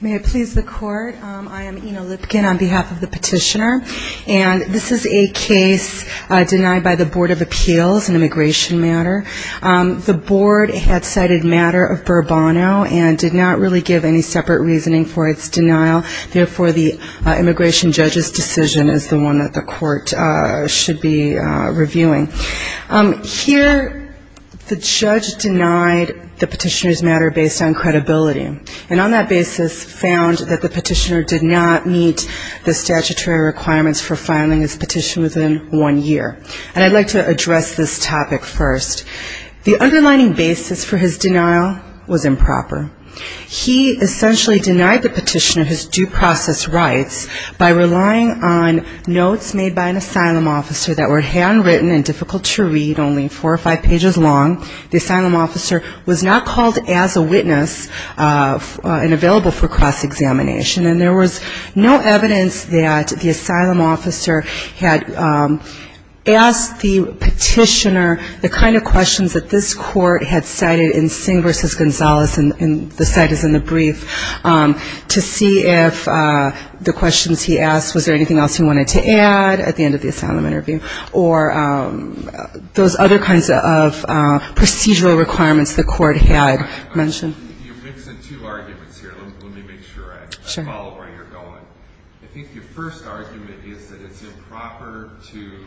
May I please the court? I am Ina Lipkin on behalf of the petitioner. And this is a case denied by the Board of Appeals in immigration matter. The board had cited matter of Burbono and did not really give any separate reasoning for its denial. Therefore, the immigration judge's decision is the one that the court should be reviewing. Here, the judge denied the petitioner's matter based on credibility. And on that basis, the board has found that the petitioner did not meet the statutory requirements for filing his petition within one year. And I'd like to address this topic first. The underlining basis for his denial was improper. He essentially denied the petitioner his due process rights by relying on notes made by an asylum officer that were handwritten and difficult to read, only four or five pages long. The asylum officer was not called as a witness and available for cross-examination. And there was no evidence that the asylum officer had asked the petitioner the kind of questions that this court had cited in Singh v. Gonzalez, and the site is in the brief, to see if the questions he asked, was there anything else he wanted to add at the end of the asylum interview, or those other kinds of procedural requirements the court had mentioned. You're mixing two arguments here. Let me make sure I follow where you're going. I think your first argument is that it's improper to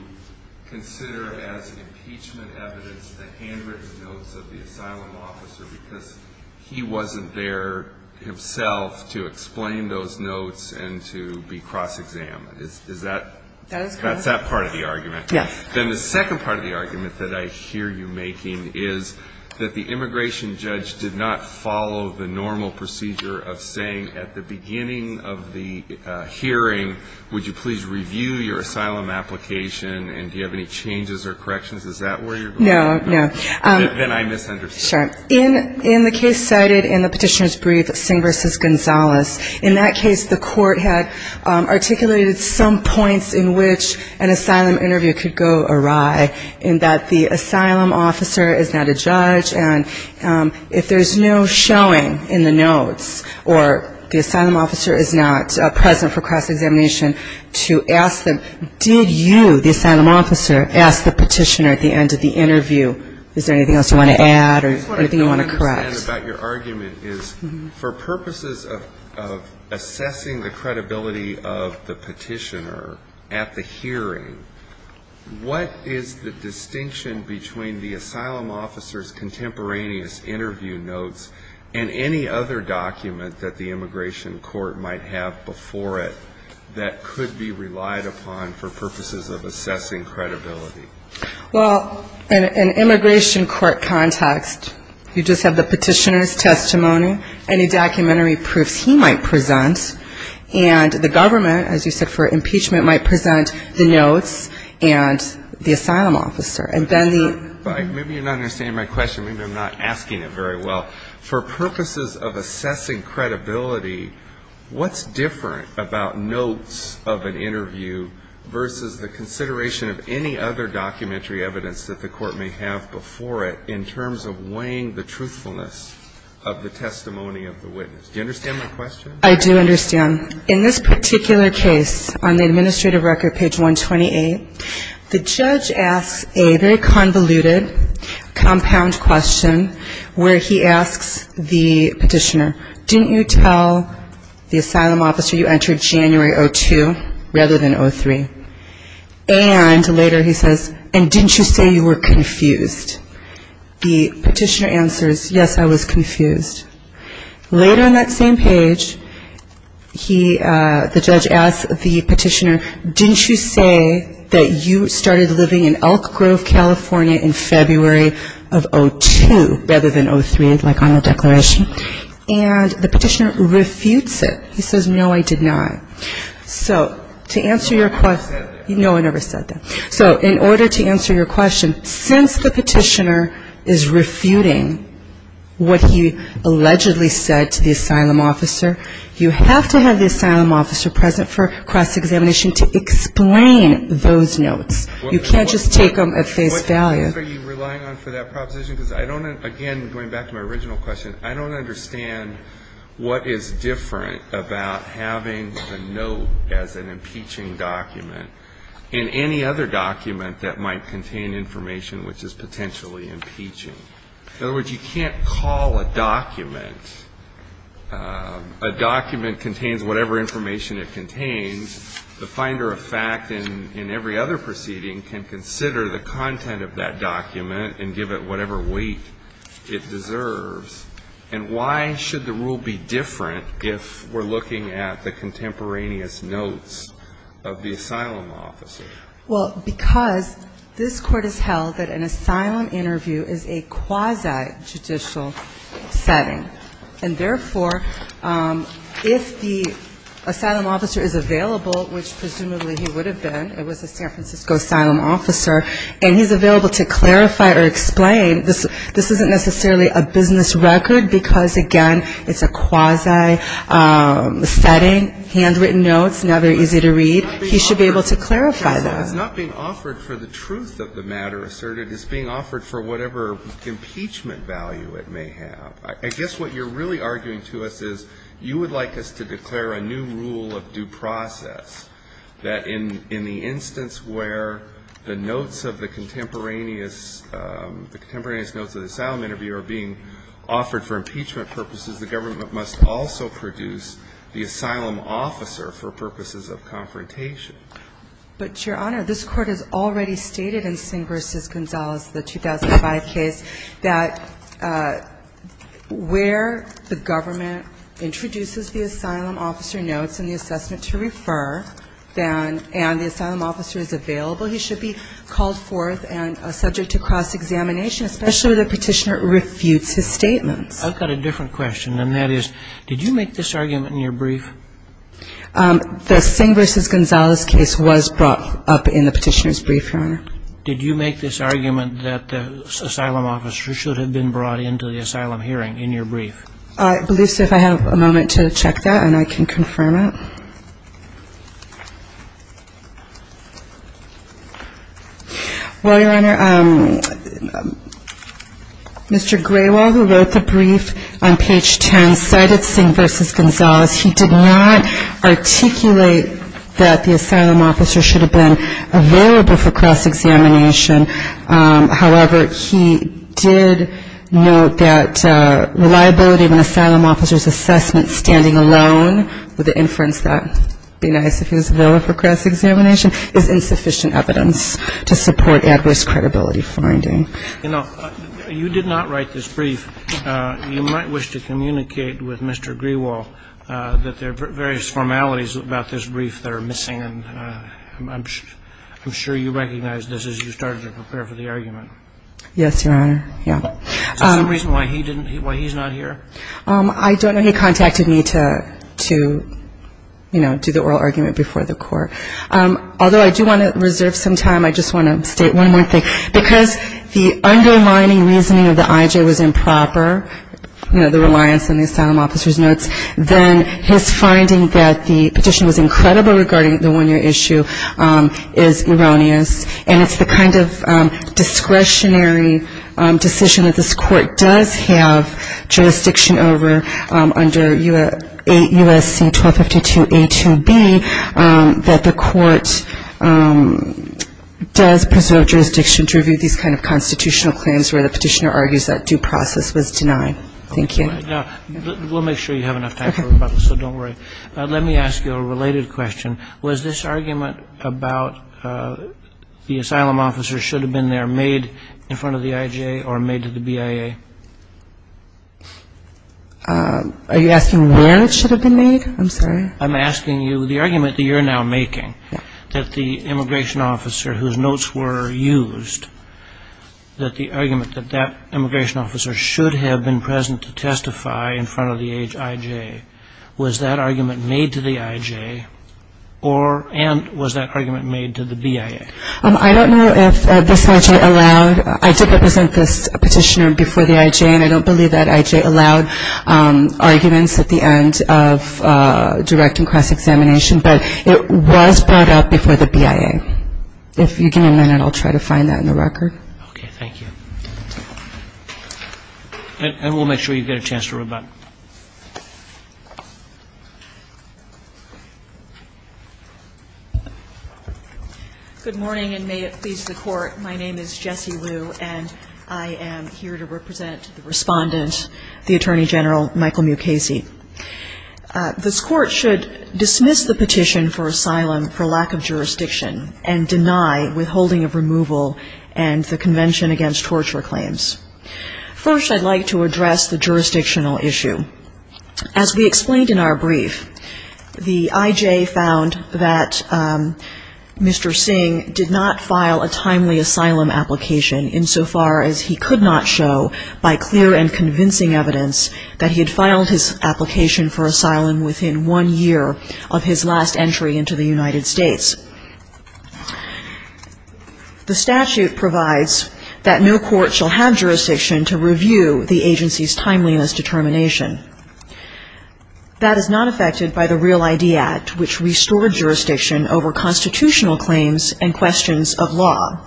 consider as impeachment evidence the handwritten notes of the asylum officer because he wasn't there himself to explain those notes and to be cross-examined. Is that? That's that part of the argument. Yes. asylum interview could go awry in that the asylum officer is not a judge, and if there's no showing in the notes or the asylum officer is not present for cross-examination, to ask them, did you, the asylum officer, ask the petitioner at the end of the interview? Is there anything else you want to add or anything you want to correct? My question, again, about your argument is for purposes of assessing the credibility of the petitioner at the hearing, what is the distinction between the asylum officer's contemporaneous interview notes and any other document that the immigration court might have before it that could be relied upon for purposes of assessing credibility? Well, in an immigration court context, you just have the petitioner's testimony, any documentary proofs he might present, and the government, as you said, for impeachment might present the notes and the asylum officer. Maybe you're not understanding my question. Maybe I'm not asking it very well. For purposes of assessing credibility, what's different about notes of an interview versus the consideration of any other documentary evidence that the court may have before it in terms of weighing the truthfulness of the testimony of the witness? Do you understand my question? I do understand. In this particular case, on the administrative record, page 128, the judge asks a very convoluted compound question where he asks the petitioner, didn't you tell the asylum officer you entered January 2002 rather than 2003? And later he says, and didn't you say you were confused? The petitioner answers, yes, I was confused. Later on that same page, he, the judge asks the petitioner, didn't you say that you started living in Elk Grove, California in February of 2002 rather than 2003, like on the declaration? And the petitioner refutes it. He says, no, I did not. So to answer your question, no, I never said that. So in order to answer your question, since the petitioner is refuting what he allegedly said to the asylum officer, you have to have the asylum officer present for cross-examination to explain those notes. You can't just take them at face value. So what are you relying on for that proposition? Because I don't, again, going back to my original question, I don't understand what is different about having the note as an impeaching document in any other document that might contain information which is potentially impeaching. In other words, you can't call a document, a document contains whatever information it contains. The finder of fact in every other proceeding can consider the content of that document and give it whatever weight it deserves. And why should the rule be different if we're looking at the contemporaneous notes of the asylum officer? Well, because this court has held that an asylum interview is a quasi-judicial setting. And therefore, if the asylum officer is available, which presumably he would have been, it was a San Francisco asylum officer, and he's available to clarify or explain, this isn't necessarily a business record because, again, it's a quasi-setting, handwritten notes, now they're easy to read. He should be able to clarify them. for whatever impeachment value it may have. I guess what you're really arguing to us is you would like us to declare a new rule of due process, that in the instance where the notes of the contemporaneous notes of the asylum interview are being offered for impeachment purposes, the government must also produce the asylum officer for purposes of confrontation. But, Your Honor, this Court has already stated in Singh v. Gonzalez, the 2005 case, that where the government introduces the asylum officer notes and the assessment to refer, and the asylum officer is available, he should be called forth and subject to cross-examination, especially if the Petitioner refutes his statements. I've got a different question, and that is, did you make this argument in your brief? The Singh v. Gonzalez case was brought up in the Petitioner's brief, Your Honor. Did you make this argument that the asylum officer should have been brought into the asylum hearing in your brief? I believe so. If I have a moment to check that, and I can confirm it. Well, Your Honor, Mr. Graywell, who wrote the brief on page 10, cited Singh v. Gonzalez. He did not articulate that the asylum officer should have been available for cross-examination. However, he did note that reliability of an asylum officer's assessment standing alone, with the inference that it would be nice if he was available for cross-examination, is insufficient evidence to support adverse credibility finding. You know, you did not write this brief. You might wish to communicate with Mr. Graywell that there are various formalities about this brief that are missing, and I'm sure you recognized this as you started to prepare for the argument. Yes, Your Honor. Is there some reason why he didn't, why he's not here? I don't know. He contacted me to, you know, do the oral argument before the Court. Although I do want to reserve some time, I just want to state one more thing. Because the underlining reasoning of the IJ was improper, you know, the reliance on the asylum officer's notes, then his finding that the petition was incredible regarding the one-year issue is erroneous, and it's the kind of discretionary decision that this Court does have jurisdiction over under U.S.C. 1252a2b that the Court does preserve jurisdiction to review these kind of constitutional claims where the petitioner argues that due process was denied. Thank you. We'll make sure you have enough time for rebuttal, so don't worry. Let me ask you a related question. Was this argument about the asylum officer should have been there made in front of the IJ or made to the BIA? Are you asking where it should have been made? I'm sorry. I'm asking you the argument that you're now making, that the immigration officer whose notes were used, that the argument that that immigration officer should have been present to testify in front of the IJ, was that argument made to the IJ and was that argument made to the BIA? I don't know if this IJ allowed. I did represent this petitioner before the IJ, and I don't believe that IJ allowed arguments at the end of direct and cross-examination, but it was brought up before the BIA. If you give me a minute, I'll try to find that in the record. Okay. Thank you. And we'll make sure you get a chance to rebut. Good morning, and may it please the Court. My name is Jessie Liu, and I am here to represent the Respondent, the Attorney General Michael Mukasey. This Court should dismiss the petition for asylum for lack of jurisdiction and deny withholding of removal and the Convention Against Torture claims. First, I'd like to address the jurisdictional issue. As we explained in our brief, the IJ found that Mr. Singh did not file a timely asylum application insofar as he could not show by clear and convincing evidence that he had filed his application for asylum within one year of his last entry into the United States. The statute provides that no court shall have jurisdiction to review the agency's timeliness determination. That is not affected by the Real ID Act, which restored jurisdiction over constitutional claims and questions of law,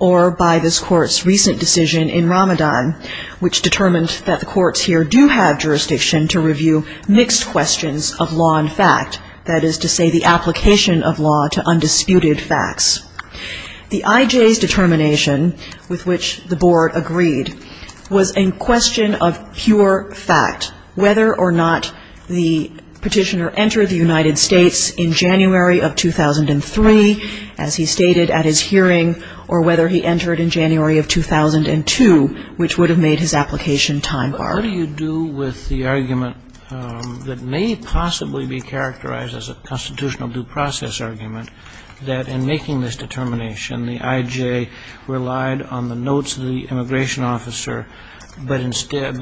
or by this Court's recent decision in Ramadan, which determined that the courts here do have jurisdiction to review mixed questions of law and fact, that is to say the application of law to undisputed facts. The IJ's determination, with which the Board agreed, was a question of pure fact, whether or not the petitioner entered the United States in January of 2003, as he stated at his hearing, or whether he entered in January of 2002, which would have made his application time-barred. What do you do with the argument that may possibly be characterized as a constitutional due process argument that in making this determination, the IJ relied on the notes of the immigration officer, but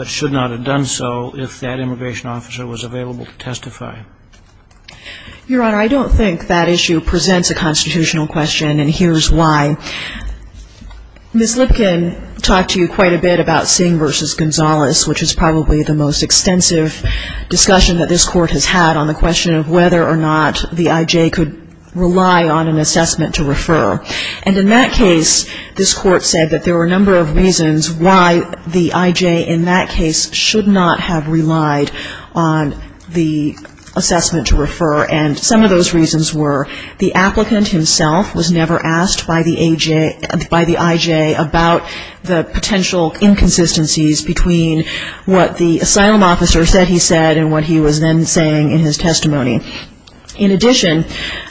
should not have done so if that immigration officer was available to testify? Your Honor, I don't think that issue presents a constitutional question, and here's why. Ms. Lipkin talked to you quite a bit about Singh v. Gonzales, which is probably the most extensive discussion that this Court has had on the question of whether or not the IJ could rely on an assessment to refer. And in that case, this Court said that there were a number of reasons why the IJ in that case And some of those reasons were the applicant himself was never asked by the IJ about the potential inconsistencies between what the asylum officer said he said and what he was then saying in his testimony. In addition,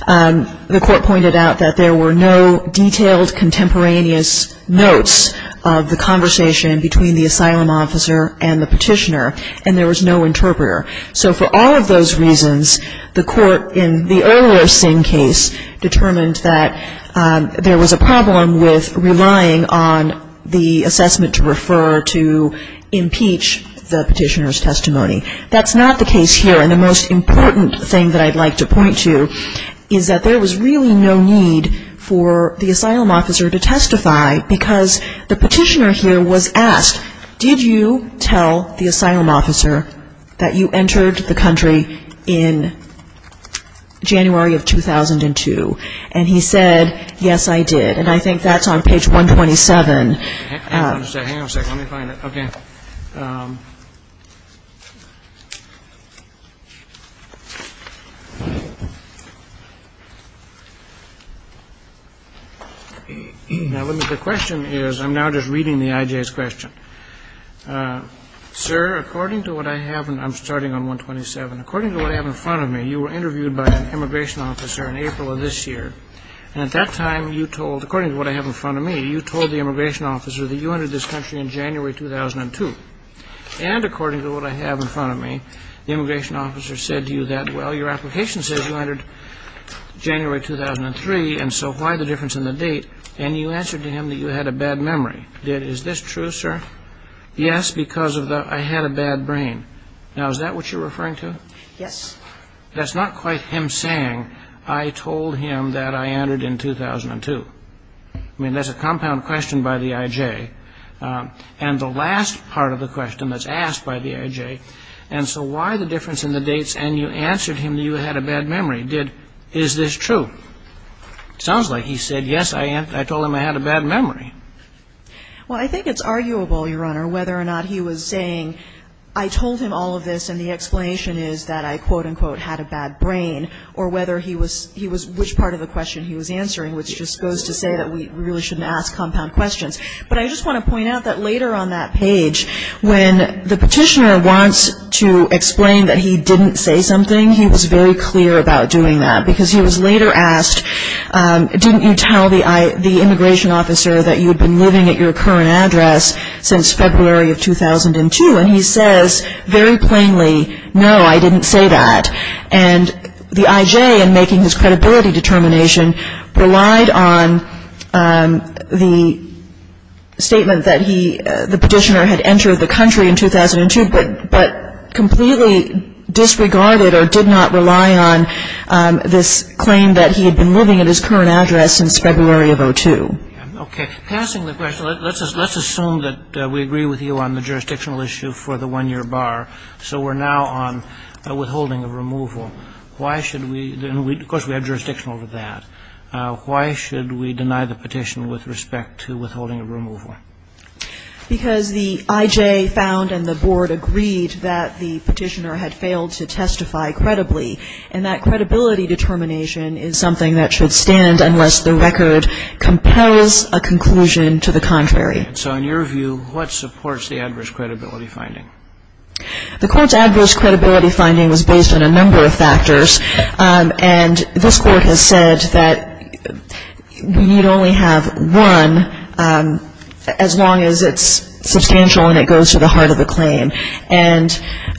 the Court pointed out that there were no detailed contemporaneous notes of the conversation between the asylum officer and the petitioner, and there was no interpreter. So for all of those reasons, the Court in the earlier Singh case determined that there was a problem with relying on the assessment to refer to impeach the petitioner's testimony. That's not the case here, and the most important thing that I'd like to point to is that there was really no need for the asylum officer to testify because the petitioner here was asked, did you tell the asylum officer that you entered the country in January of 2002? And he said, yes, I did. And I think that's on page 127. The question is, I'm now just reading the IJ's question. Sir, according to what I have, and I'm starting on 127, according to what I have in front of me, you were interviewed by an immigration officer in April of this year, and at that time you told, according to what I have in front of me, you told the immigration officer that you entered this country in January 2002. And according to what I have in front of me, the immigration officer said to you that, well, your application says you entered January 2003, and so why the difference in the date? And you answered to him that you had a bad memory. Is this true, sir? Yes, because I had a bad brain. Now, is that what you're referring to? Yes. That's not quite him saying, I told him that I entered in 2002. I mean, that's a compound question by the IJ. And the last part of the question that's asked by the IJ, and so why the difference in the dates, and you answered him that you had a bad memory, did, is this true? It sounds like he said, yes, I told him I had a bad memory. Well, I think it's arguable, Your Honor, whether or not he was saying, I told him all of this, and the explanation is that I, quote, unquote, had a bad brain, or whether he was, which part of the question he was answering, which just goes to say that we really shouldn't ask compound questions. But I just want to point out that later on that page, when the petitioner wants to explain that he didn't say something, he was very clear about doing that, because he was later asked, didn't you tell the immigration officer that you had been living at your current address since February of 2002? And he says very plainly, no, I didn't say that. And the IJ, in making his credibility determination, relied on the statement that he, the petitioner, had entered the country in 2002, but completely disregarded or did not rely on this claim that he had been living at his current address since February of 02. Okay. Passing the question, let's assume that we agree with you on the jurisdictional issue for the one-year bar. So we're now on withholding of removal. Why should we, and of course we have jurisdiction over that. Why should we deny the petition with respect to withholding of removal? Because the IJ found and the Board agreed that the petitioner had failed to testify credibly, and that credibility determination is something that should stand unless the record compels a conclusion to the contrary. So in your view, what supports the adverse credibility finding? The court's adverse credibility finding was based on a number of factors. And this Court has said that we need only have one as long as it's substantial and it goes to the heart of the claim. And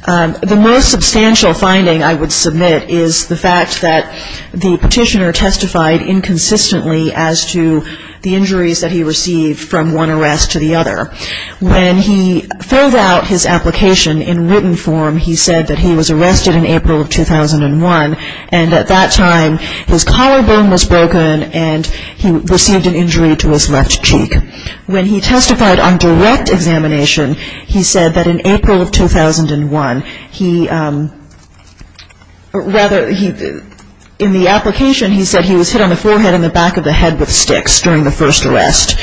the most substantial finding I would submit is the fact that the petitioner testified inconsistently as to the injuries that he received from one arrest to the other. When he filled out his application in written form, he said that he was arrested in April of 2001, and at that time his collarbone was broken and he received an injury to his left cheek. When he testified on direct examination, he said that in April of 2001, he rather in the application, he said he was hit on the forehead and the back of the head with sticks during the first arrest.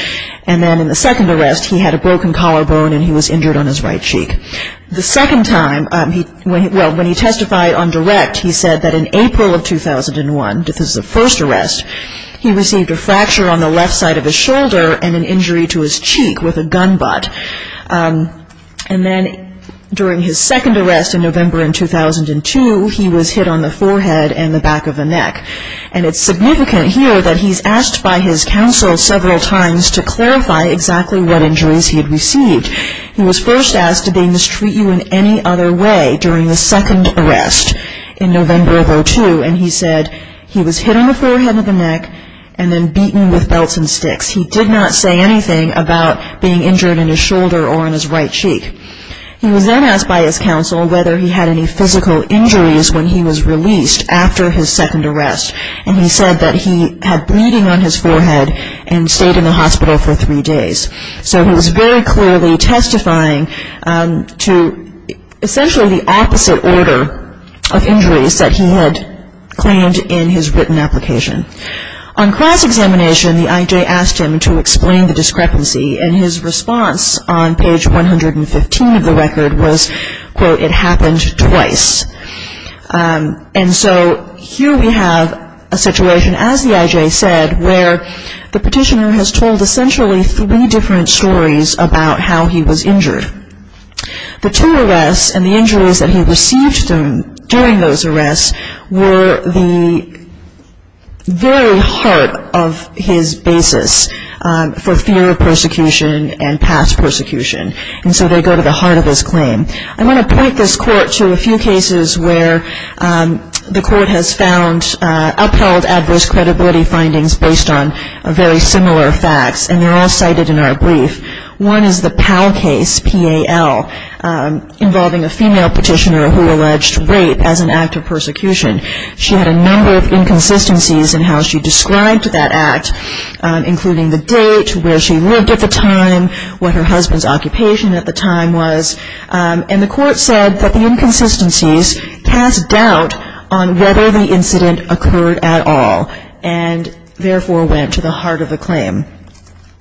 And then in the second arrest, he had a broken collarbone and he was injured on his right cheek. The second time, well, when he testified on direct, he said that in April of 2001, this is the first arrest, he received a fracture on the left side of his shoulder and an injury to his cheek with a gun butt. And then during his second arrest in November in 2002, he was hit on the forehead and the back of the neck. And it's significant here that he's asked by his counsel several times to clarify exactly what injuries he had received. He was first asked to be mistreated in any other way during the second arrest in November of 2002, and he said he was hit on the forehead and the neck and then beaten with belts and sticks. He did not say anything about being injured in his shoulder or in his right cheek. He was then asked by his counsel whether he had any physical injuries when he was released after his second arrest, and he said that he had bleeding on his forehead and stayed in the hospital for three days. So he was very clearly testifying to essentially the opposite order of injuries that he had claimed in his written application. On cross-examination, the IJ asked him to explain the discrepancy, and his response on page 115 of the record was, quote, it happened twice. And so here we have a situation, as the IJ said, where the petitioner has told essentially three different stories about how he was injured. The two arrests and the injuries that he received during those arrests were the very heart of his basis for fear of persecution and past persecution, and so they go to the heart of his claim. I want to point this court to a few cases where the court has found upheld adverse credibility findings based on very similar facts, and they're all cited in our brief. One is the Powell case, P-A-L, involving a female petitioner who alleged rape as an act of persecution. She had a number of inconsistencies in how she described that act, including the date, where she lived at the time, what her husband's occupation at the time was, and the court said that the inconsistencies cast doubt on whether the incident occurred at all and therefore went to the heart of the claim.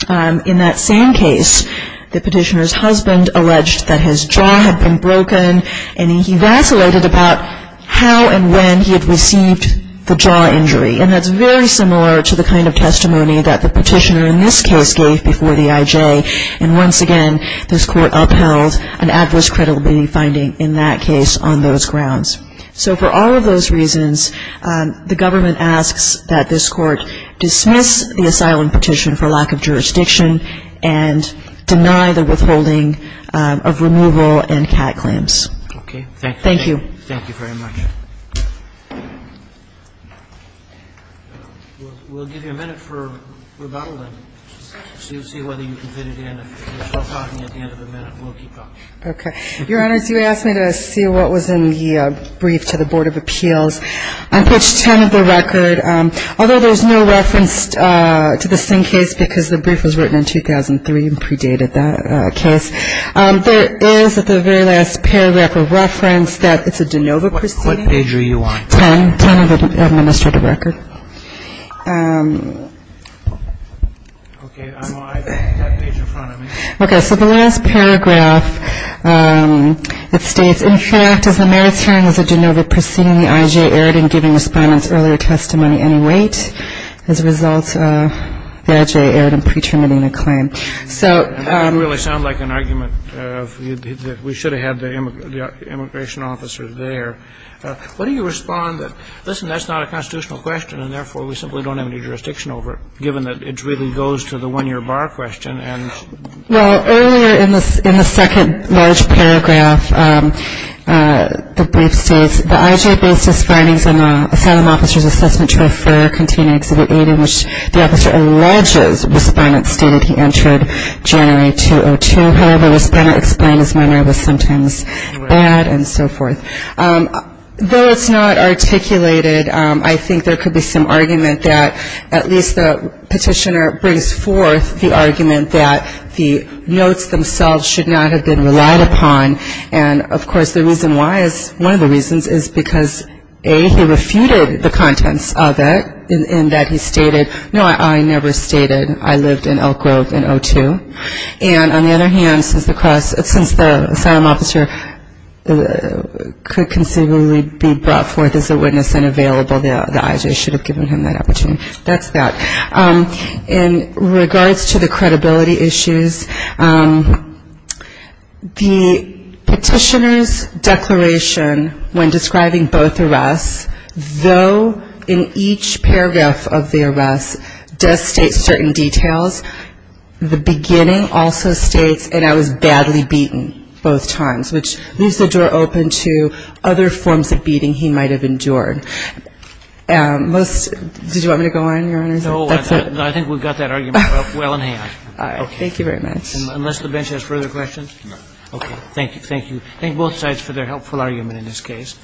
In that same case, the petitioner's husband alleged that his jaw had been broken and he vacillated about how and when he had received the jaw injury, and that's very similar to the kind of testimony that the petitioner in this case gave before the IJ, and once again this court upheld an adverse credibility finding in that case on those grounds. So for all of those reasons, the government asks that this Court dismiss the asylum petition for lack of jurisdiction and deny the withholding of removal and CAT claims. Thank you. Thank you. Thank you very much. We'll give you a minute for rebuttal and see whether you can fit it in. We're still talking at the end of the minute. We'll keep talking. Okay. Your Honors, you asked me to see what was in the brief to the Board of Appeals. On page 10 of the record, although there's no reference to the same case because the brief was written in 2003 and predated that case, there is at the very last paragraph a reference that it's a de novo proceeding. What page are you on? 10, 10 of the administrative record. Okay. I'm on that page in front of me. Okay. So the last paragraph, it states, in fact, as the merits hearing is a de novo proceeding, the I.J. erred in giving respondents earlier testimony any weight. As a result, the I.J. erred in pre-terminating the claim. That didn't really sound like an argument. We should have had the immigration officer there. What do you respond to? Listen, that's not a constitutional question, and therefore we simply don't have any jurisdiction over it, given that it really goes to the one-year bar question. Well, earlier in the second large paragraph, the brief states, the I.J. based his findings on the asylum officer's assessment to a fur container Exhibit 8, in which the officer alleges respondents stated he entered January 2002. However, respondents explained his manner was sometimes bad and so forth. Though it's not articulated, I think there could be some argument that at least the petitioner brings forth the argument that the notes themselves should not have been relied upon. And, of course, the reason why is one of the reasons is because, A, he refuted the contents of it in that he stated, no, I never stated I lived in Elk Grove in 2002. And on the other hand, since the asylum officer could conceivably be brought forth as a witness and available, the I.J. should have given him that opportunity. That's that. In regards to the credibility issues, the petitioner's declaration when describing both arrests, though in each paragraph of the arrest does state certain details, the beginning also states, and I was badly beaten both times, which leaves the door open to other forms of beating he might have endured. No, I think we've got that argument well in hand. All right. Thank you very much. Unless the bench has further questions? No. Okay. Thank you. Thank you. Thank both sides for their helpful argument in this case.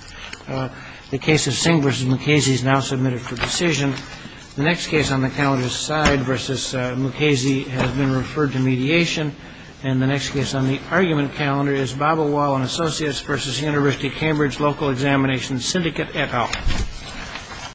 The case of Singh v. Mukasey is now submitted for decision. The next case on the calendar is Side v. Mukasey has been referred to mediation. And the next case on the argument calendar is Babelwall & Associates v. University of Cambridge Local Examination Syndicate et al.